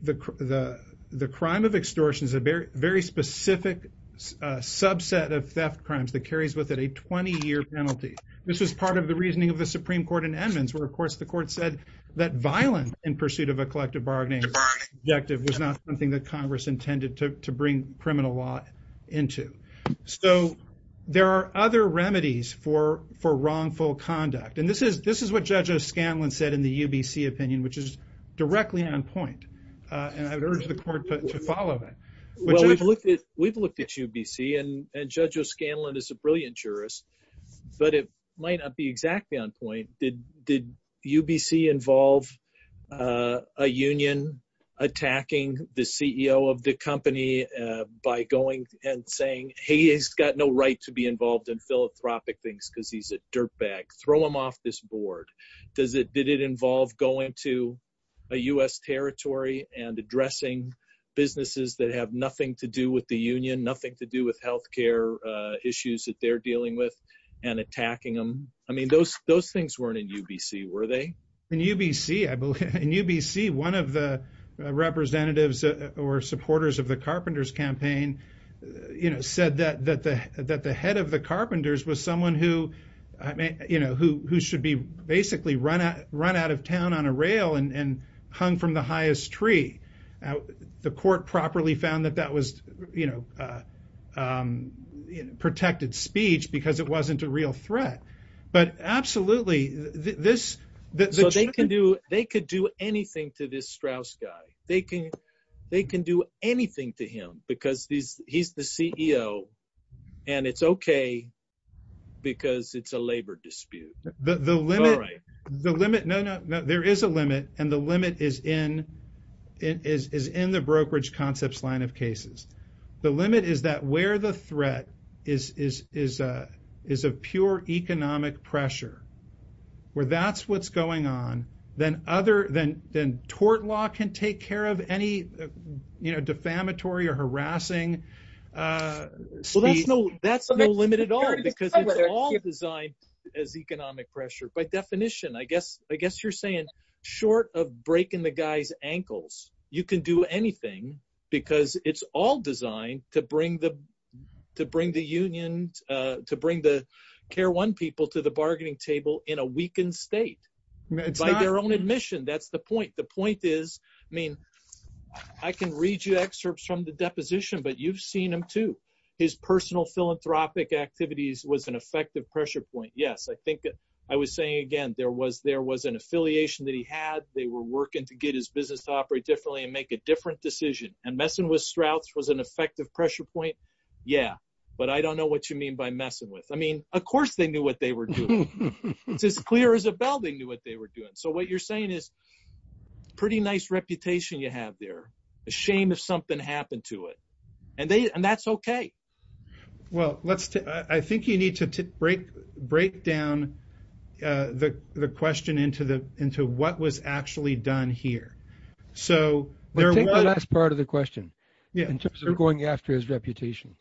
the crime of extortion is a very specific subset of theft crimes that carries with it a 20 year penalty. This was part of the reasoning of the Supreme Court in Edmonds, where, of course, the court said that violent in pursuit of a collective bargaining objective was not something that Congress intended to bring criminal law into. So there are other remedies for wrongful conduct. And this is what Judge O'Scanlan said in the UBC opinion, which is directly on point. And I would urge the court to follow it. Well, we've looked at UBC and Judge O'Scanlan is a brilliant jurist, but it might not be exactly on point. Did UBC involve a union attacking the CEO of the company by going and saying, hey, he's got no right to be involved in philanthropic things because he's a dirtbag. Throw him off this board. Did it involve going to a U.S. territory and addressing businesses that have nothing to do with the union, nothing to do with health care issues that they're dealing with? And attacking them? I mean, those things weren't in UBC, were they? In UBC, I believe, in UBC, one of the representatives or supporters of the Carpenters campaign, you know, said that the head of the Carpenters was someone who, I mean, you know, who should be basically run out of town on a rail and hung from the highest tree. The court properly found that that was, you know, protected speech because it wasn't a real threat. But absolutely, this... So they can do anything to this Strauss guy. They can do anything to him because he's the CEO and it's OK because it's a labor dispute. There is a limit and the limit is in the brokerage concepts line of cases. The limit is that where the threat is of pure economic pressure, where that's what's going on, then other than tort law can take care of any, you know, defamatory or harassing speech. Well, that's no limit at all because it's all designed as economic pressure. By definition, I guess you're saying short of breaking the guy's ankles, you can do anything because it's all designed to bring the union, to bring the care one people to the bargaining table in a weakened state. By their own admission. That's the point. The point is, I mean, I can read you excerpts from the deposition, but you've seen him too. His personal philanthropic activities was an effective pressure point. Yes, I think I was saying again, there was an affiliation that he had. They were working to get his business to operate differently and make a different decision. And messing with Strauss was an effective pressure point. Yeah, but I don't know what you mean by messing with. I mean, of course, they knew what they were doing. It's as clear as a bell. They knew what they were doing. So what you're saying is pretty nice reputation you have there. A shame if something happened to it. And that's OK. Well, let's take, I think you need to break down the question into the, into what was actually done here. So there was part of the question. In terms of going after his reputation.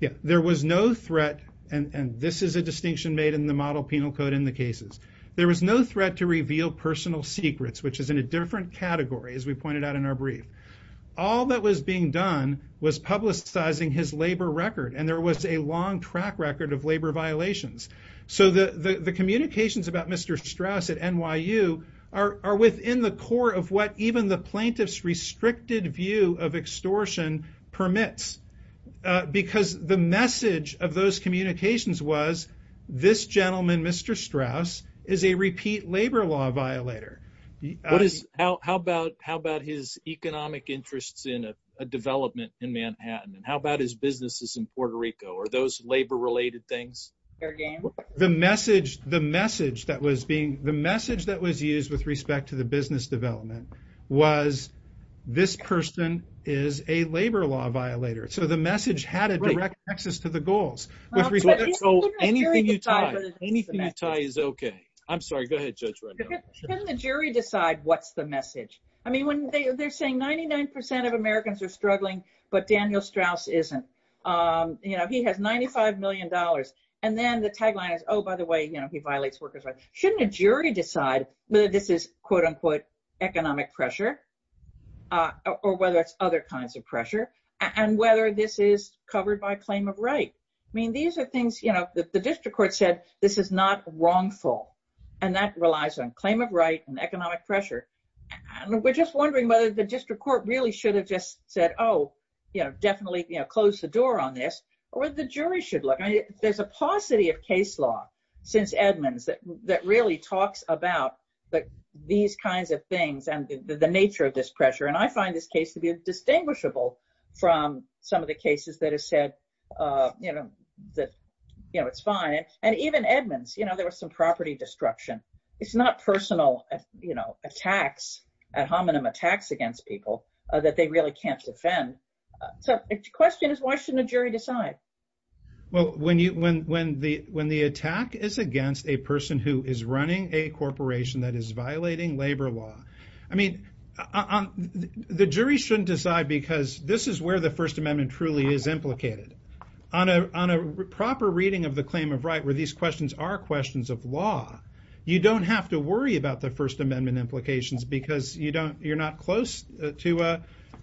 Yeah, there was no threat. And this is a distinction made in the model penal code in the cases. There was no threat to reveal personal secrets, which is in a different category, as we pointed out in our brief. All that was being done was publicizing his labor record. And there was a long track record of labor violations. So the communications about Mr. Strauss at NYU are within the core of what even the plaintiff's restricted view of extortion permits. Because the message of those communications was this gentleman, Mr. Strauss, is a repeat labor law violator. What is, how about, how about his economic interests in a development in Manhattan? And how about his businesses in Puerto Rico or those labor related things? The message, the message that was being, the message that was used with respect to the business development was this person is a labor law violator. So the message had a direct access to the goals. Anything you tie is OK. I'm sorry. Go ahead, Judge. Can the jury decide what's the message? I mean, when they're saying 99% of Americans are struggling, but Daniel Strauss isn't, you know, he has $95 million. And then the tagline is, oh, by the way, you know, he violates workers rights. Shouldn't a jury decide that this is, quote unquote, economic pressure or whether it's other kinds of pressure and whether this is covered by claim of right? I mean, these are things, you know, the district court said this is not wrongful and that relies on claim of right and economic pressure. And we're just wondering whether the district court really should have just said, oh, you know, definitely, you know, close the door on this or the jury should look. I mean, there's a paucity of case law since Edmonds that, that really talks about these kinds of things and the nature of this pressure. And I find this case to be distinguishable from some of the cases that have said, you know, that, you know, it's fine. And even Edmonds, you know, there was some property destruction. It's not personal, you know, attacks ad hominem attacks against people that they really can't defend. So the question is, why shouldn't a jury decide? Well, when you, when, when the, when the attack is against a person who is running a corporation that is violating labor law, I mean, the jury shouldn't decide because this is where the first amendment truly is implicated on a, on a proper reading of the claim of right, where these questions are questions of law. You don't have to worry about the first amendment implications because you don't, you're not close to,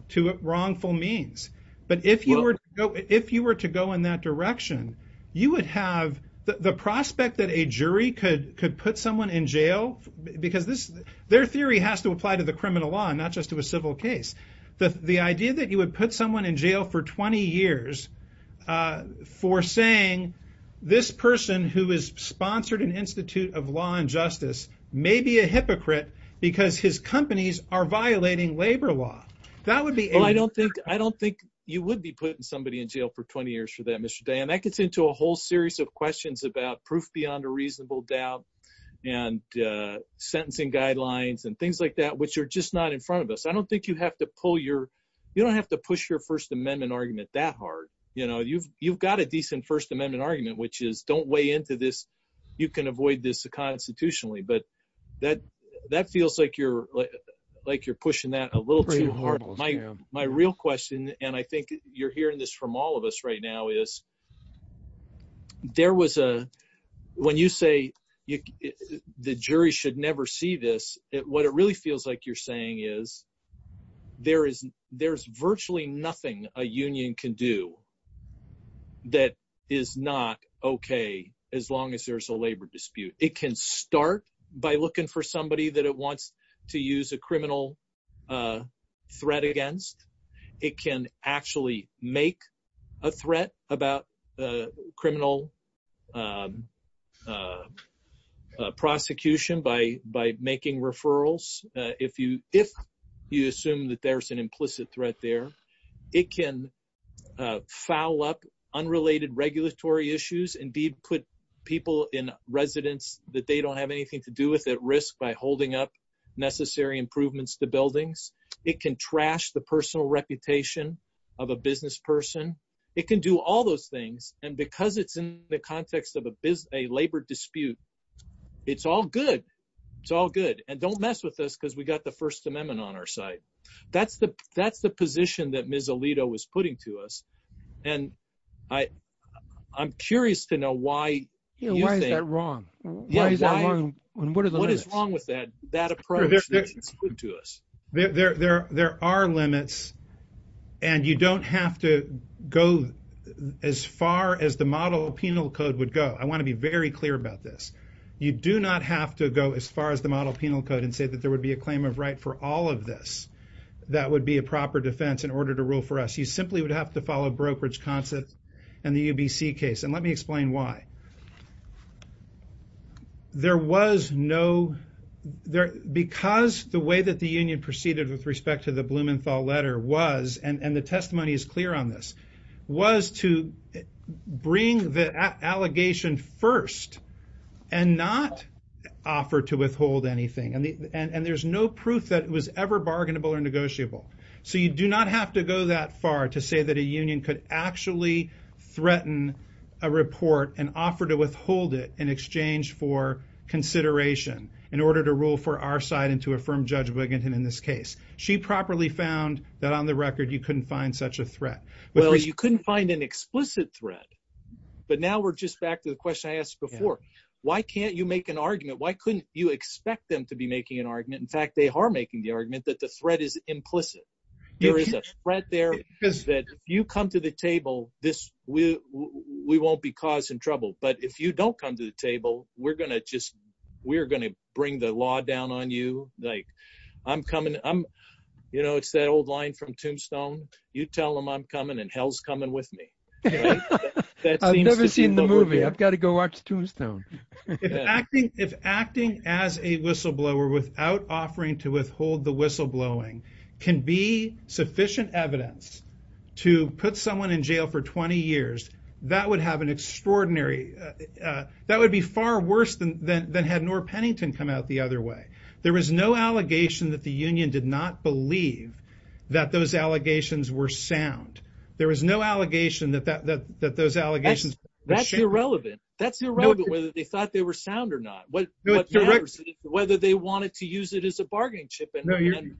to wrongful means. But if you were to go, if you were to go in that direction, you would have the prospect that a jury could, could put someone in jail because this, their theory has to apply to the criminal law and not just to a civil case. The, the idea that you would put someone in jail for 20 years for saying this person who is sponsored an institute of law and justice may be a hypocrite because his companies are violating labor law. That would be. Well, I don't think, I don't think you would be putting somebody in jail for 20 years for that Mr. Day. And that gets into a whole series of questions about proof beyond a reasonable doubt. And sentencing guidelines and things like that, which are just not in front of us. I don't think you have to pull your, you don't have to push your first amendment argument that hard. You know, you've, you've got a decent first amendment argument, which is don't weigh into this. You can avoid this constitutionally, but that, that feels like you're, like you're pushing that a little too hard. My real question, and I think you're hearing this from all of us right now is there was a, when you say you, the jury should never see this. What it really feels like you're saying is there is, there's virtually nothing a union can do that is not okay. As long as there's a labor dispute, it can start by looking for somebody that it wants to use a criminal threat against. It can actually make a threat about criminal prosecution by, by making referrals. If you, if you assume that there's an implicit threat there, it can foul up unrelated regulatory issues and put people in residence that they don't have anything to do with at risk by holding up necessary improvements to buildings. It can trash the personal reputation of a business person. It can do all those things. And because it's in the context of a business, a labor dispute, it's all good. It's all good. And don't mess with us because we got the first amendment on our side. That's the, that's the position that Ms. Alito was putting to us. And I, I'm curious to know why. Why is that wrong? What is wrong with that, that approach to us? There are limits and you don't have to, go as far as the model penal code would go. I want to be very clear about this. You do not have to go as far as the model penal code and say that there would be a claim of right for all of this. That would be a proper defense in order to rule for us. You simply would have to follow brokerage concept and the UBC case. And let me explain why. There was no, because the way that the union proceeded with respect to the Blumenthal letter was, and the testimony is clear on this, was to bring the allegation first and not offer to withhold anything. And there's no proof that it was ever bargainable or negotiable. So you do not have to go that far to say that a union could actually threaten a report and offer to withhold it in exchange for consideration in order to rule for our side and to affirm Judge Wiginton in this case. She properly found that on the record, you couldn't find such a threat. Well, you couldn't find an explicit threat, but now we're just back to the question I asked before. Why can't you make an argument? Why couldn't you expect them to be making an argument? In fact, they are making the argument that the threat is implicit. There is a threat there that if you come to the table, this, we won't be causing trouble. But if you don't come to the table, we're going to just, we're going to bring the law down on you. Like I'm coming, I'm, you know, it's that old line from Tombstone. You tell them I'm coming and hell's coming with me. I've never seen the movie. I've got to go watch Tombstone. If acting as a whistleblower without offering to withhold the whistleblowing can be sufficient evidence to put someone in jail for 20 years, that would have an extraordinary, that would be far worse than had Nora Pennington come out the other way. There was no allegation that the union did not believe that those allegations were sound. There was no allegation that those allegations. That's irrelevant. That's irrelevant whether they thought they were sound or not. Whether they wanted to use it as a bargaining chip.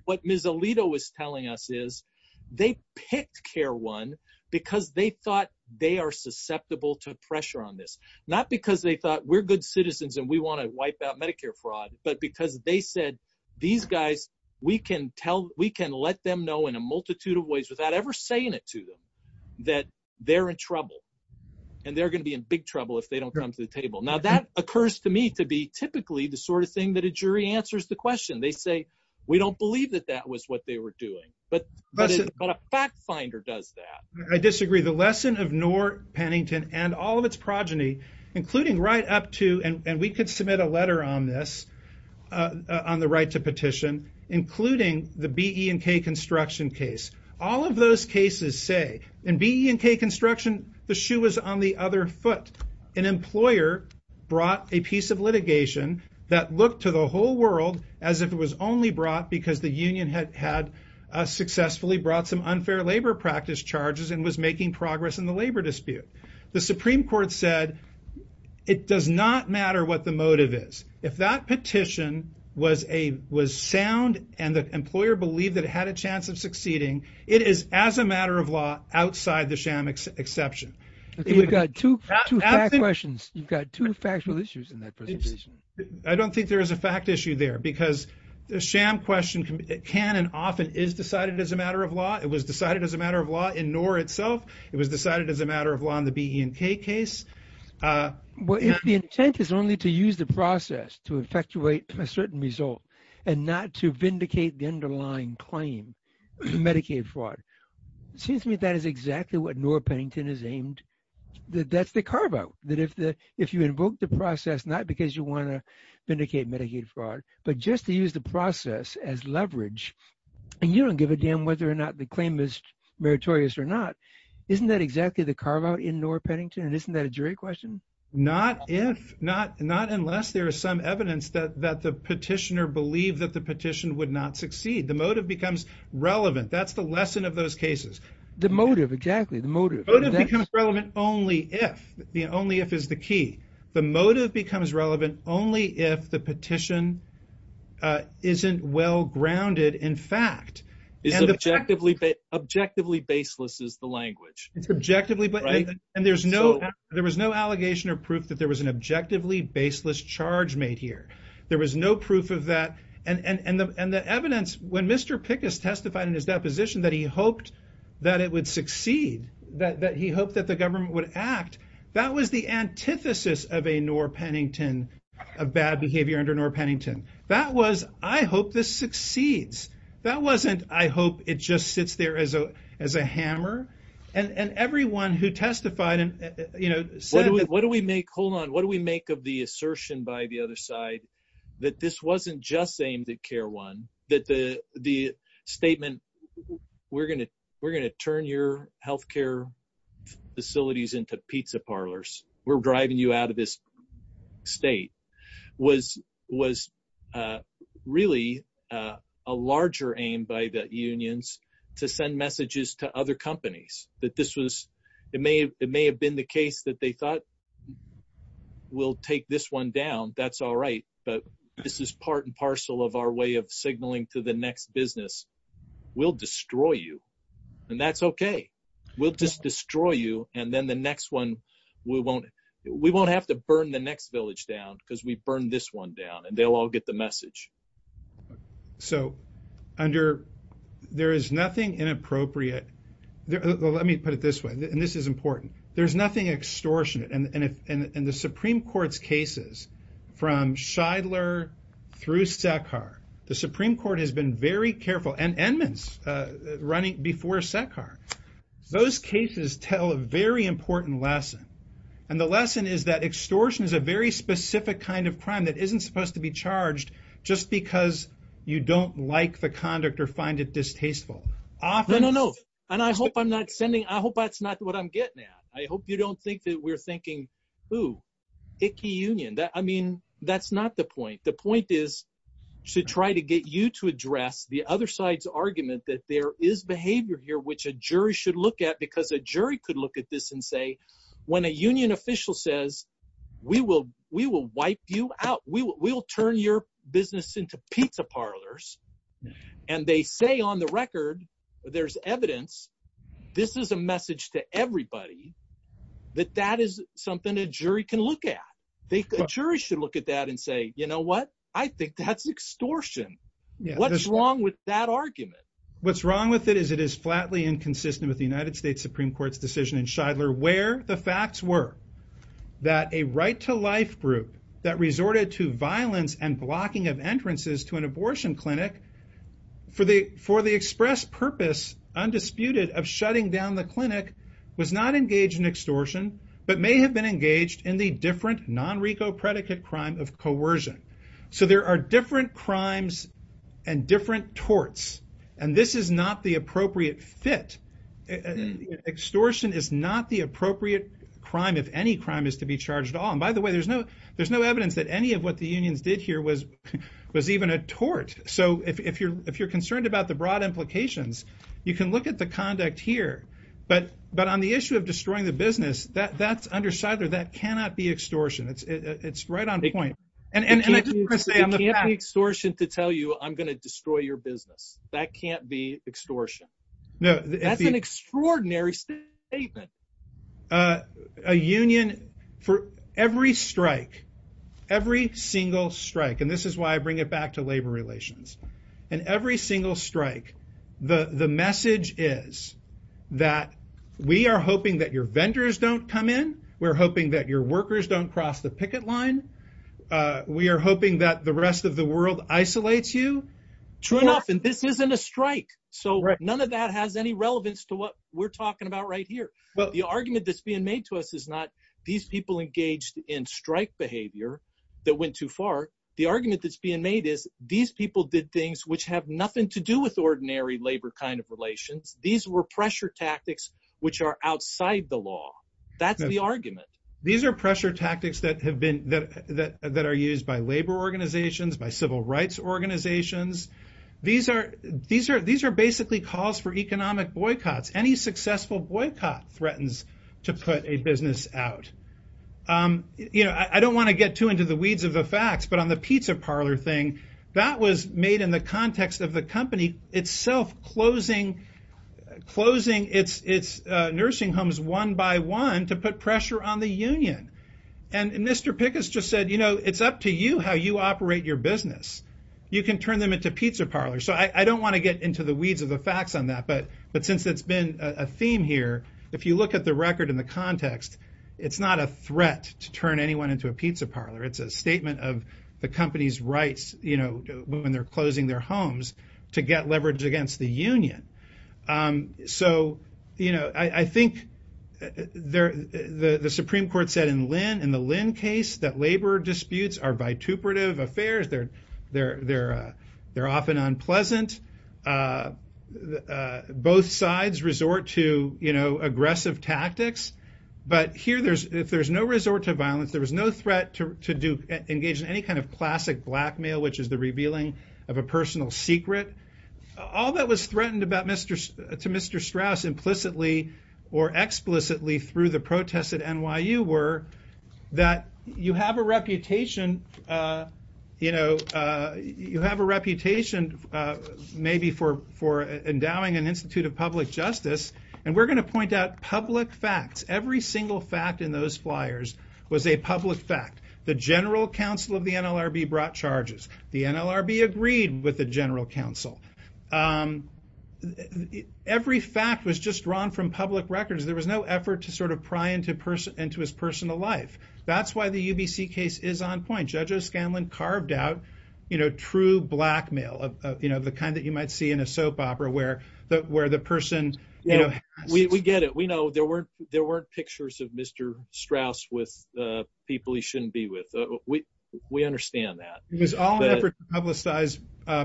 What Ms. Alito was telling us is they picked CARE 1 because they thought they are susceptible to pressure on this. Not because they thought we're good citizens and we want to wipe out Medicare fraud, but because they said, these guys, we can tell, in a multitude of ways without ever saying it to them, that they're in trouble and they're going to be in big trouble if they don't come to the table. Now that occurs to me to be typically the sort of thing that a jury answers the question. They say, we don't believe that that was what they were doing, but a fact finder does that. I disagree. The lesson of Nora Pennington and all of its progeny, including right up to, and we could submit a letter on this on the right to petition, including the BE&K construction case. All of those cases say, in BE&K construction, the shoe was on the other foot. An employer brought a piece of litigation that looked to the whole world as if it was only brought because the union had successfully brought some unfair labor practice charges and was making progress in the labor dispute. The Supreme Court said, it does not matter what the motive is. If that petition was sound and the employer believed that it had a chance of succeeding, it is as a matter of law outside the sham exception. You've got two questions. You've got two factual issues in that presentation. I don't think there is a fact issue there because the sham question can and often is decided as a matter of law. It was decided as a matter of law in Nora itself. It was decided as a matter of law in the BE&K case. Well, if the intent is only to use the process to effectuate a certain result and not to vindicate the underlying claim, Medicaid fraud, it seems to me that is exactly what Nora Pennington is aimed. That's the carve out, that if you invoke the process, not because you want to vindicate Medicaid fraud, but just to use the process as leverage and you don't give a damn whether or not the claim is meritorious or not. Isn't that exactly the carve out in Nora Pennington? And isn't that a jury question? Not if, not unless there is some evidence that the petitioner believed that the petition would not succeed. The motive becomes relevant. That's the lesson of those cases. The motive, exactly. The motive becomes relevant only if, the only if is the key. The motive becomes relevant only if the petition isn't well grounded in fact. It's objectively baseless is the language. It's objectively, and there was no proof that there was an objectively baseless charge made here. There was no proof of that. And the evidence, when Mr. Pickus testified in his deposition that he hoped that it would succeed, that he hoped that the government would act, that was the antithesis of a Nora Pennington, of bad behavior under Nora Pennington. That was, I hope this succeeds. That wasn't, I hope it just sits there as a hammer. And everyone who testified What do we make, hold on, what do we make of the assertion by the other side that this wasn't just aimed at CARE 1, that the statement, we're gonna turn your healthcare facilities into pizza parlors. We're driving you out of this state was really a larger aim by the unions to send messages to other companies that this was, it may have been the case that they thought, we'll take this one down. That's all right. But this is part and parcel of our way of signaling to the next business. We'll destroy you. And that's okay. We'll just destroy you. And then the next one, we won't have to burn the next village down because we burned this one down and they'll all get the message. So under, there is nothing inappropriate. Let me put it this way. And this is important. There's nothing extortionate. And the Supreme Court's cases from Scheidler through Sekar, the Supreme Court has been very careful and Edmonds running before Sekar. Those cases tell a very important lesson. And the lesson is that extortion is a very specific kind of crime that isn't supposed to be charged just because you don't like the conduct or find it distasteful. Often- No, no, no. And I hope I'm not sending, I hope that's not what I'm getting at. I hope you don't think that we're thinking, ooh, icky union. I mean, that's not the point. The point is to try to get you to address the other side's argument that there is behavior here which a jury should look at because a jury could look at this and say, when a union official says, we will wipe you out. We'll turn your business into pizza parlors. And they say on the record, there's evidence. This is a message to everybody that that is something a jury can look at. They, a jury should look at that and say, you know what? I think that's extortion. What's wrong with that argument? What's wrong with it is it is flatly inconsistent with the United States Supreme Court's decision in Shidler where the facts were that a right-to-life group that resorted to violence and blocking of entrances to an abortion clinic for the express purpose undisputed of shutting down the clinic was not engaged in extortion but may have been engaged in the different non-RICO predicate crime of coercion. So there are different crimes and different torts. And this is not the appropriate fit. Extortion is not the appropriate crime if any crime is to be charged at all. And by the way, there's no evidence that any of what the unions did here was even a tort. So if you're concerned about the broad implications, you can look at the conduct here. But on the issue of destroying the business, that's under Shidler, that cannot be extortion. It's right on point. And I just want to say, it can't be extortion to tell you I'm going to destroy your business. That can't be extortion. That's an extraordinary statement. A union for every strike, every single strike, and this is why I bring it back to labor relations, and every single strike, the message is that we are hoping that your vendors don't come in. We're hoping that your workers don't cross the picket line. We are hoping that the rest of the world isolates you. True enough, and this isn't a strike. So none of that has any relevance to what we're talking about right here. But the argument that's being made to us is not these people engaged in strike behavior that went too far. The argument that's being made is these people did things which have nothing to do with ordinary labor kind of relations. These were pressure tactics which are outside the law. That's the argument. These are pressure tactics that are used by labor organizations, by civil rights organizations. These are basically calls for economic boycotts. Any successful boycott threatens to put a business out. I don't want to get too into the weeds of the facts, but on the pizza parlor thing, that was made in the context of the company itself closing its nursing homes one by one to put pressure on the union. And Mr. Pickett just said, you know, it's up to you how you operate your business. You can turn them into pizza parlors. So I don't want to get into the weeds of the facts on that. But since it's been a theme here, if you look at the record and the context, it's not a threat to turn anyone into a pizza parlor. It's a statement of the company's rights, when they're closing their homes, to get leverage against the union. So, you know, I think the Supreme Court said in Lynn, in the Lynn case, that labor disputes are vituperative affairs. They're often unpleasant. Both sides resort to, you know, aggressive tactics. But here, if there's no resort to violence, there is no threat to engage in any kind of classic blackmail, which is the revealing of a personal secret. All that was threatened to Mr. Strauss implicitly or explicitly through the protests at NYU were that you have a reputation, you know, you have a reputation maybe for endowing an Institute of Public Justice. And we're going to point out public facts. Every single fact in those flyers was a public fact. The general counsel of the NLRB brought charges. The NLRB agreed with the general counsel. Every fact was just drawn from public records. There was no effort to sort of pry into his personal life. That's why the UBC case is on point. Judge O'Scanlan carved out, you know, true blackmail, you know, the kind that you might see in a soap opera where the person, you know. We get it. We know there weren't pictures of Mr. Strauss with people he shouldn't be with. We understand that. It was all an effort to publicize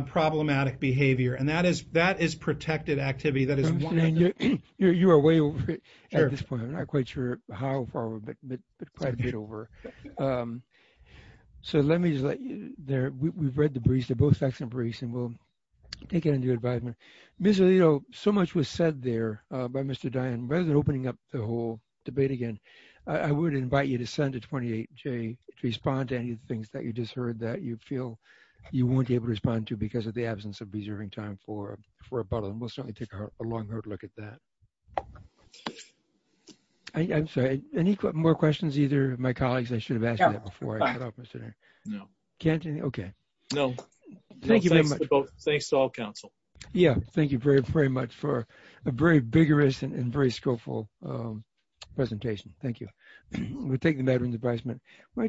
problematic behavior. And that is protected activity. You are way over at this point. I'm not quite sure how far we're going to get over. So let me just let you there. We've read the briefs. They're both excellent briefs and we'll take it into advisement. Ms. Alito, so much was said there by Mr. Dian. Rather than opening up the whole debate again, I would invite you to send to respond to any of the things that you just heard that you feel you won't be able to respond to because of the absence of preserving time for a bottle. And we'll certainly take a long hard look at that. I'm sorry, any more questions, either of my colleagues? I should have asked that before I cut off Mr. Dian. No. Can't you? Okay. No. Thank you very much. Thanks to all counsel. Yeah. Thank you very, very much for a very vigorous and very skillful presentation. Thank you. We'll take the matter into advisement.